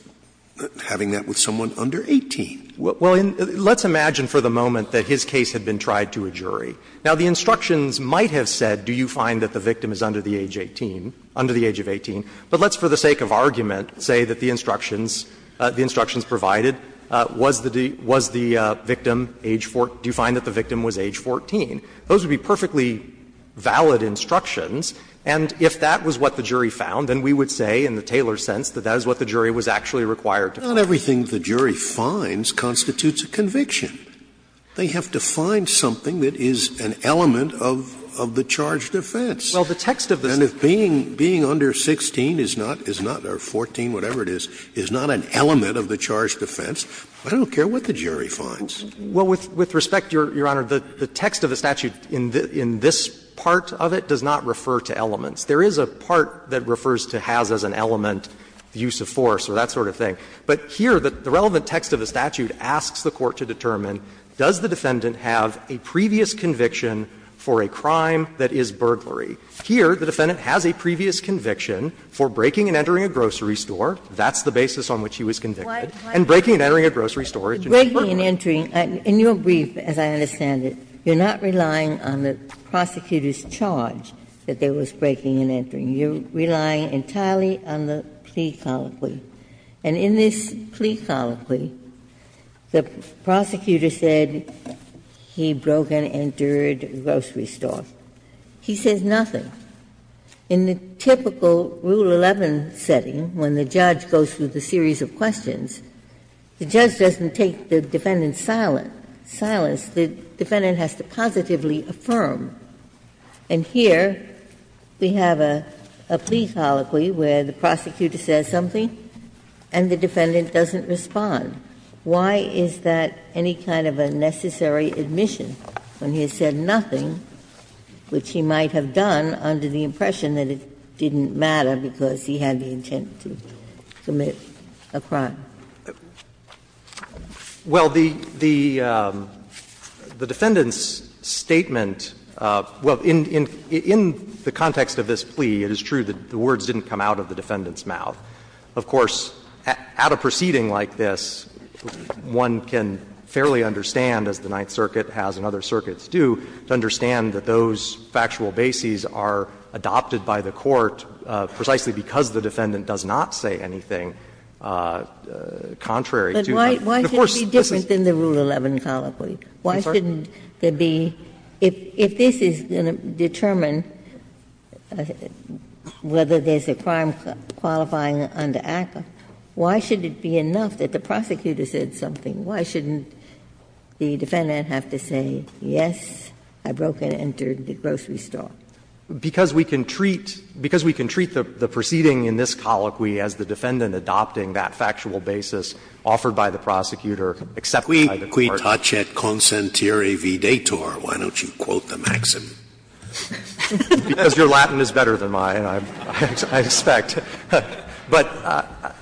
having that with someone under 18. Well, let's imagine for the moment that his case had been tried to a jury. Now, the instructions might have said, do you find that the victim is under the age 18, under the age of 18, but let's, for the sake of argument, say that the instructions the instructions provided was the victim age 14, do you find that the victim was age 14. Those would be perfectly valid instructions, and if that was what the jury found, then we would say in the Taylor sense that that is what the jury was actually required to find. Scalia, not everything the jury finds constitutes a conviction. They have to find something that is an element of the charged offense. And if being under 16 is not, or 14, whatever it is, is not an element of the charged offense, I don't care what the jury finds. Well, with respect, Your Honor, the text of the statute in this part of it does not refer to elements. There is a part that refers to has as an element the use of force or that sort of thing. But here, the relevant text of the statute asks the court to determine, does the defendant have a previous conviction for a crime that is burglary? Here, the defendant has a previous conviction for breaking and entering a grocery store, that's the basis on which he was convicted, and breaking and entering a grocery store is burglary. Ginsburg. Ginsburg. In your brief, as I understand it, you are not relying on the prosecutor's charge that there was breaking and entering. You are relying entirely on the plea colloquy. And in this plea colloquy, the prosecutor said he broke and entered a grocery store. He says nothing. In the typical Rule 11 setting, when the judge goes through the series of questions, the judge doesn't take the defendant's silence. The defendant has to positively affirm. And here, we have a plea colloquy where the prosecutor says something and the defendant doesn't respond. Why is that any kind of a necessary admission, when he has said nothing, which he might have done under the impression that it didn't matter because he had the intent to commit a crime? Well, the defendant's statement of — well, in the context of this plea, it is true that the words didn't come out of the defendant's mouth. Of course, at a proceeding like this, one can fairly understand, as the Ninth Circuit has and other circuits do, to understand that those factual bases are adopted by the court precisely because the defendant does not say anything contrary to the force. But why shouldn't it be different than the Rule 11 colloquy? Why shouldn't there be — if this is going to determine whether there's a crime qualifying under ACCA, why shouldn't it be enough that the prosecutor said something? Why shouldn't the defendant have to say, yes, I broke and entered the grocery store? Because we can treat — because we can treat the proceeding in this colloquy as the defendant adopting that factual basis offered by the prosecutor except by the court. Scalia Qui tacet consentere vidator. Why don't you quote the maxim? Because your Latin is better than mine, I expect. But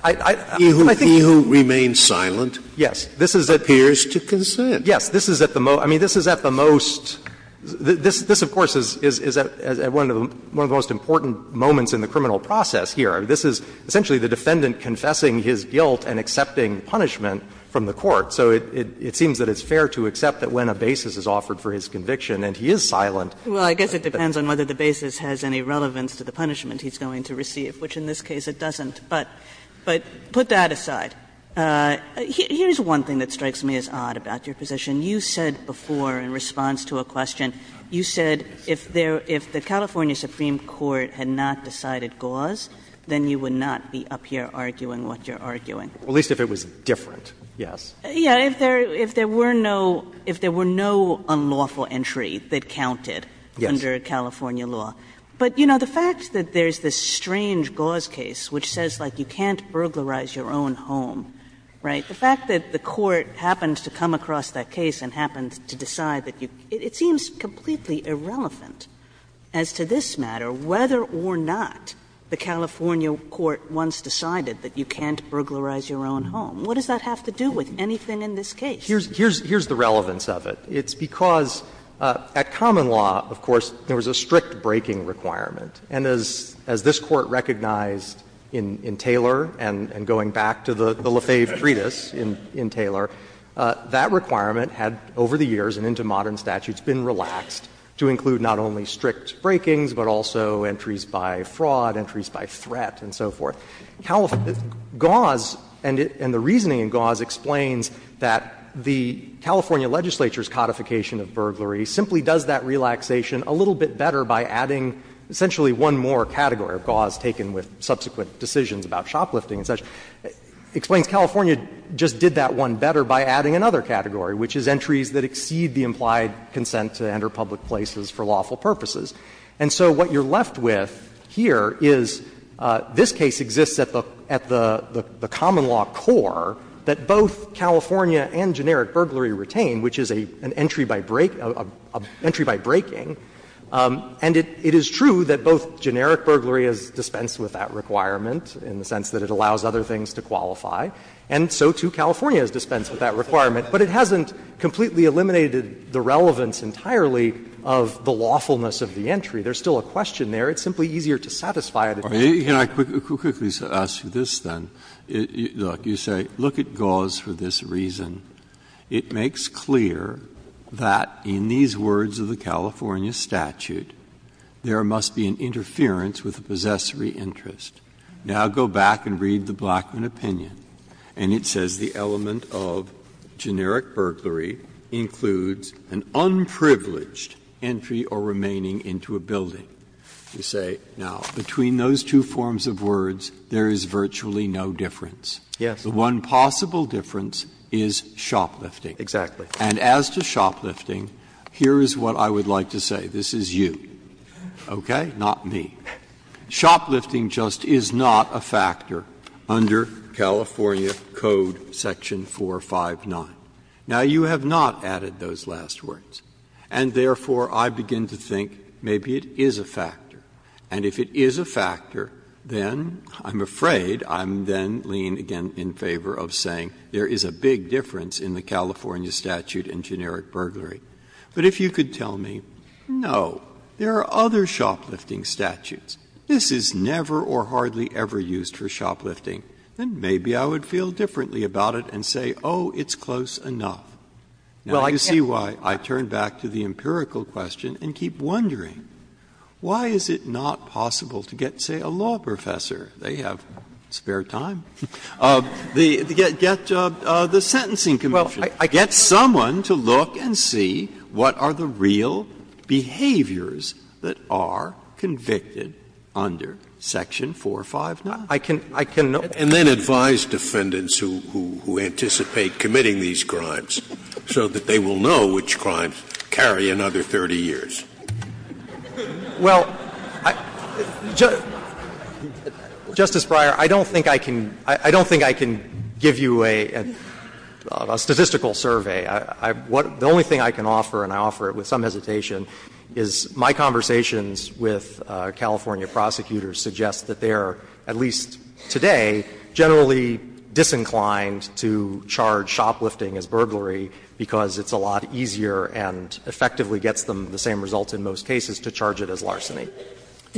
I think you can't. He who remains silent appears to consent. Yes. This is at the most — I mean, this is at the most — this, of course, is at the most important moments in the criminal process here. This is essentially the defendant confessing his guilt and accepting punishment from the court. So it seems that it's fair to accept that when a basis is offered for his conviction and he is silent. Kagan Well, I guess it depends on whether the basis has any relevance to the punishment he's going to receive, which in this case it doesn't. But put that aside. Here's one thing that strikes me as odd about your position. You said before, in response to a question, you said if there — if the California Supreme Court had not decided gauze, then you would not be up here arguing what you're arguing. At least if it was different, yes. Yeah, if there were no — if there were no unlawful entry that counted under California law. But, you know, the fact that there's this strange gauze case which says, like, you can't burglarize your own home, right, the fact that the court happens to come across that case and happens to decide that you — it seems completely irrelevant as to this matter whether or not the California court once decided that you can't burglarize your own home. What does that have to do with anything in this case? Here's — here's the relevance of it. It's because at common law, of course, there was a strict breaking requirement. And as this Court recognized in Taylor and going back to the Lafave treatise in Taylor, that requirement had, over the years and into modern statutes, been relaxed to include not only strict breakings, but also entries by fraud, entries by threat, and so forth. Gauze — and the reasoning in gauze explains that the California legislature's codification of burglary simply does that relaxation a little bit better by adding essentially one more category of gauze taken with subsequent decisions about shoplifting and such. It explains California just did that one better by adding another category, which is entries that exceed the implied consent to enter public places for lawful purposes. And so what you're left with here is this case exists at the — at the common law core that both California and generic burglary retain, which is an entry by break — an entry by breaking. And it is true that both generic burglary is dispensed with that requirement in the sense that it allows other things to qualify, and so, too, California is dispensed with that requirement. But it hasn't completely eliminated the relevance entirely of the lawfulness of the entry. There's still a question there. It's simply easier to satisfy it if it's not there. Breyer, you say, look at gauze for this reason. It makes clear that, in these words of the California statute, there must be an interference with a possessory interest. Now go back and read the Blackman opinion, and it says the element of generic burglary includes an unprivileged entry or remaining into a building. You say, now, between those two forms of words, there is virtually no difference. Yes. The one possible difference is shoplifting. Exactly. And as to shoplifting, here is what I would like to say. This is you, okay, not me. Shoplifting just is not a factor under California Code section 459. Now, you have not added those last words, and therefore, I begin to think maybe it is a factor. And if it is a factor, then I'm afraid I'm then leaning again in favor of saying there is a big difference in the California statute and generic burglary. But if you could tell me, no, there are other shoplifting statutes, this is never or hardly ever used for shoplifting, then maybe I would feel differently about it and say, oh, it's close enough. Now, you see why I turn back to the empirical question and keep wondering, why is it not possible to get, say, a law professor, they have spare time, get the Sentencing Commission. Get someone to look and see what are the real behaviors that are convicted under section 459. I can know. And then advise defendants who anticipate committing these crimes so that they will know which crimes carry another 30 years. Well, Justice Breyer, I don't think I can give you a statistical answer to that. The statistical survey, the only thing I can offer, and I offer it with some hesitation, is my conversations with California prosecutors suggest that they are, at least today, generally disinclined to charge shoplifting as burglary because it's a lot easier and effectively gets them the same results in most cases to charge it as larceny.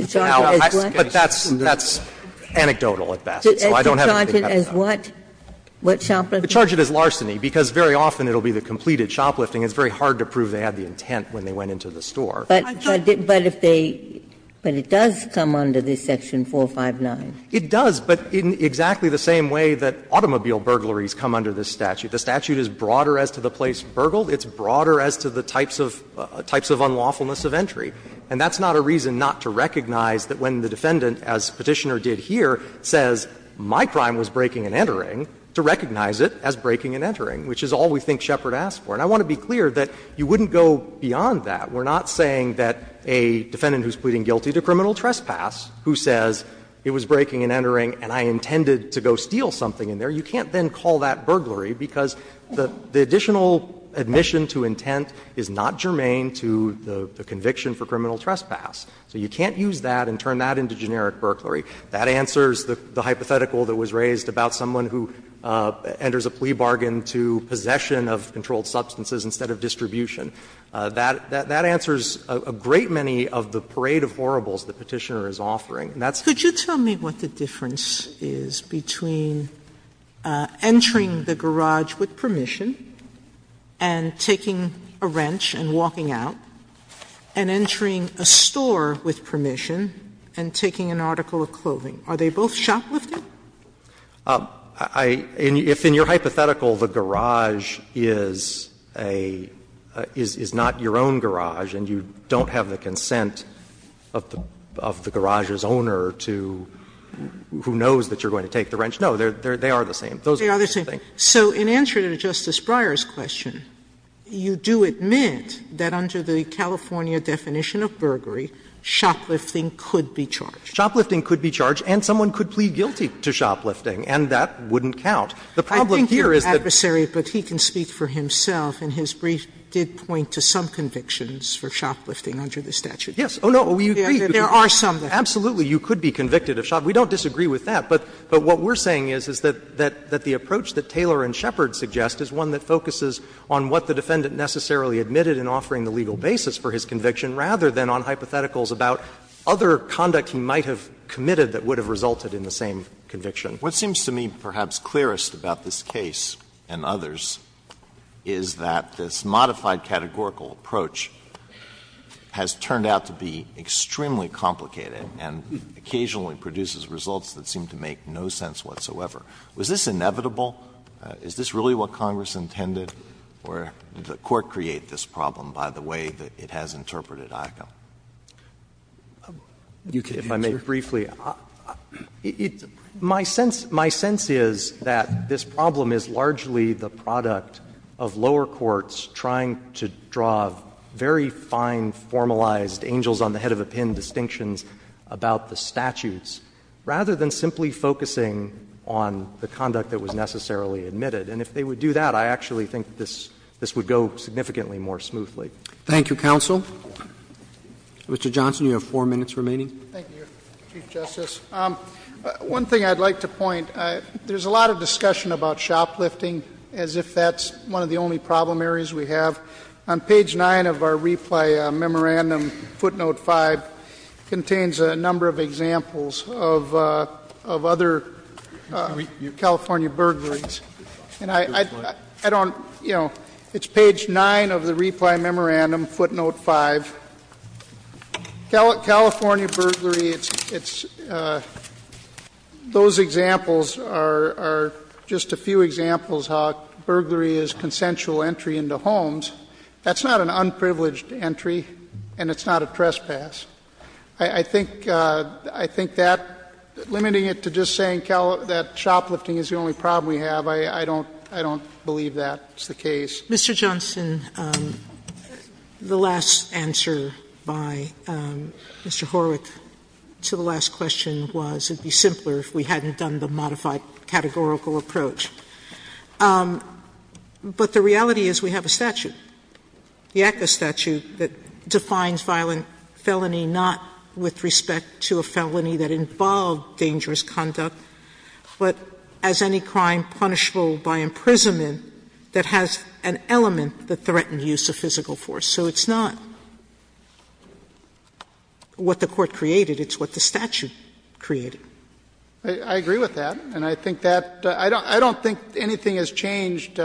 But that's anecdotal at best, so I don't have anything to add to that. Ginsburg. What? What shoplifting? I charge it as larceny, because very often it will be the completed shoplifting. It's very hard to prove they had the intent when they went into the store. But if they do, but it does come under this section 459. It does, but in exactly the same way that automobile burglaries come under this statute. The statute is broader as to the place burgled. It's broader as to the types of unlawfulness of entry. And that's not a reason not to recognize that when the defendant, as Petitioner did here, says my crime was breaking and entering, to recognize it as breaking and entering, which is all we think Shepard asked for. And I want to be clear that you wouldn't go beyond that. We're not saying that a defendant who's pleading guilty to criminal trespass who says it was breaking and entering and I intended to go steal something in there, you can't then call that burglary because the additional admission to intent is not germane to the conviction for criminal trespass. So you can't use that and turn that into generic burglary. That answers the hypothetical that was raised about someone who enters a plea bargain to possession of controlled substances instead of distribution. That answers a great many of the parade of horribles the Petitioner is offering. And that's the reason why I'm here. Sotomayor, could you tell me what the difference is between entering the garage with permission and taking a wrench and walking out, and entering a store with permission and taking an article of clothing? Are they both shoplifting? I — if in your hypothetical the garage is a — is not your own garage and you don't have the consent of the garage's owner to — who knows that you're going to take the wrench, no, they are the same. Those are the same. They are the same. So in answer to Justice Breyer's question, you do admit that under the California definition of burglary, shoplifting could be charged. Shoplifting could be charged, and someone could plead guilty to shoplifting, and that wouldn't count. The problem here is that — I think your adversary, but he can speak for himself, in his brief, did point to some convictions for shoplifting under the statute. Yes. Oh, no. We agree. There are some that — Absolutely. You could be convicted of shoplifting. We don't disagree with that. But what we're saying is that the approach that Taylor and Shepard suggest is one that focuses on what the defendant necessarily admitted in offering the legal basis for his conviction, rather than on hypotheticals about other conduct he might have committed that would have resulted in the same conviction. Alito, what seems to me perhaps clearest about this case and others is that this modified categorical approach has turned out to be extremely complicated and occasionally produces results that seem to make no sense whatsoever. Was this inevitable? Is this really what Congress intended? Or did the Court create this problem by the way that it has interpreted ICA? You can answer. If I may briefly, my sense is that this problem is largely the product of lower courts trying to draw very fine formalized angels on the head of a pin distinctions about the statutes, rather than simply focusing on the conduct that was necessarily admitted. And if they would do that, I actually think this would go significantly more smoothly. Thank you, counsel. Mr. Johnson, you have four minutes remaining. Thank you, Chief Justice. One thing I'd like to point, there's a lot of discussion about shoplifting as if that's one of the only problem areas we have. On page 9 of our replay memorandum, footnote 5, contains a number of examples of other California burglaries. And I don't, you know, it's page 9 of the replay memorandum, footnote 5. California burglary, it's, those examples are just a few examples how burglary is consensual entry into homes. That's not an unprivileged entry, and it's not a trespass. I think that limiting it to just saying that shoplifting is the only problem we have, I don't believe that's the case. Mr. Johnson, the last answer by Mr. Horwick to the last question was it would be simpler if we hadn't done the modified categorical approach. But the reality is we have a statute, the ACCA statute, that defines violent felony not with respect to a felony that involved dangerous conduct, but as any crime punishable by imprisonment that has an element that threatened use of physical force. So it's not what the Court created, it's what the statute created. I agree with that, and I think that — I don't think anything has changed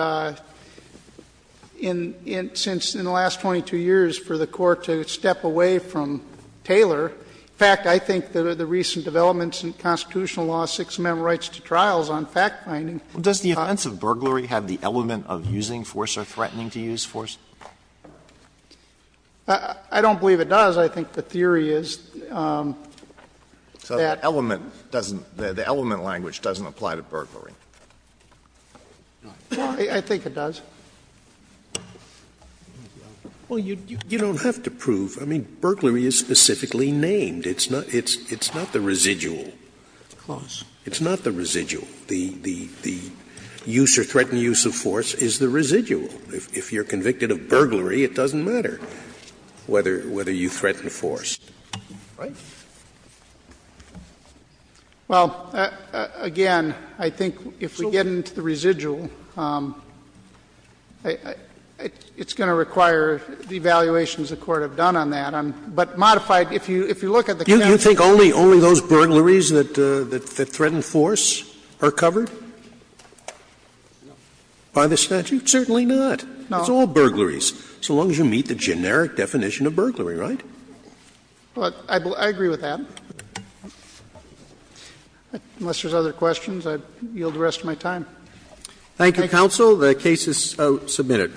in — since in the last 22 years for the Court to step away from Taylor. In fact, I think the recent developments in constitutional law, Sixth Amendment rights to trials on fact-finding. Alito, does the offense of burglary have the element of using force or threatening to use force? I don't believe it does. I think the theory is that — So the element doesn't — the element language doesn't apply to burglary? I think it does. Well, you don't have to prove. I mean, burglary is specifically named. It's not the residual. It's not the residual. The use or threatened use of force is the residual. If you're convicted of burglary, it doesn't matter whether you threaten force. Right? Well, again, I think if we get into the residual, it's going to require the evaluations the Court have done on that. But modified, if you look at the case— Do you think only those burglaries that threaten force are covered by the statute? Certainly not. No. It's all burglaries, so long as you meet the generic definition of burglary, right? Well, I agree with that. Unless there's other questions, I yield the rest of my time. Thank you, counsel. The case is submitted.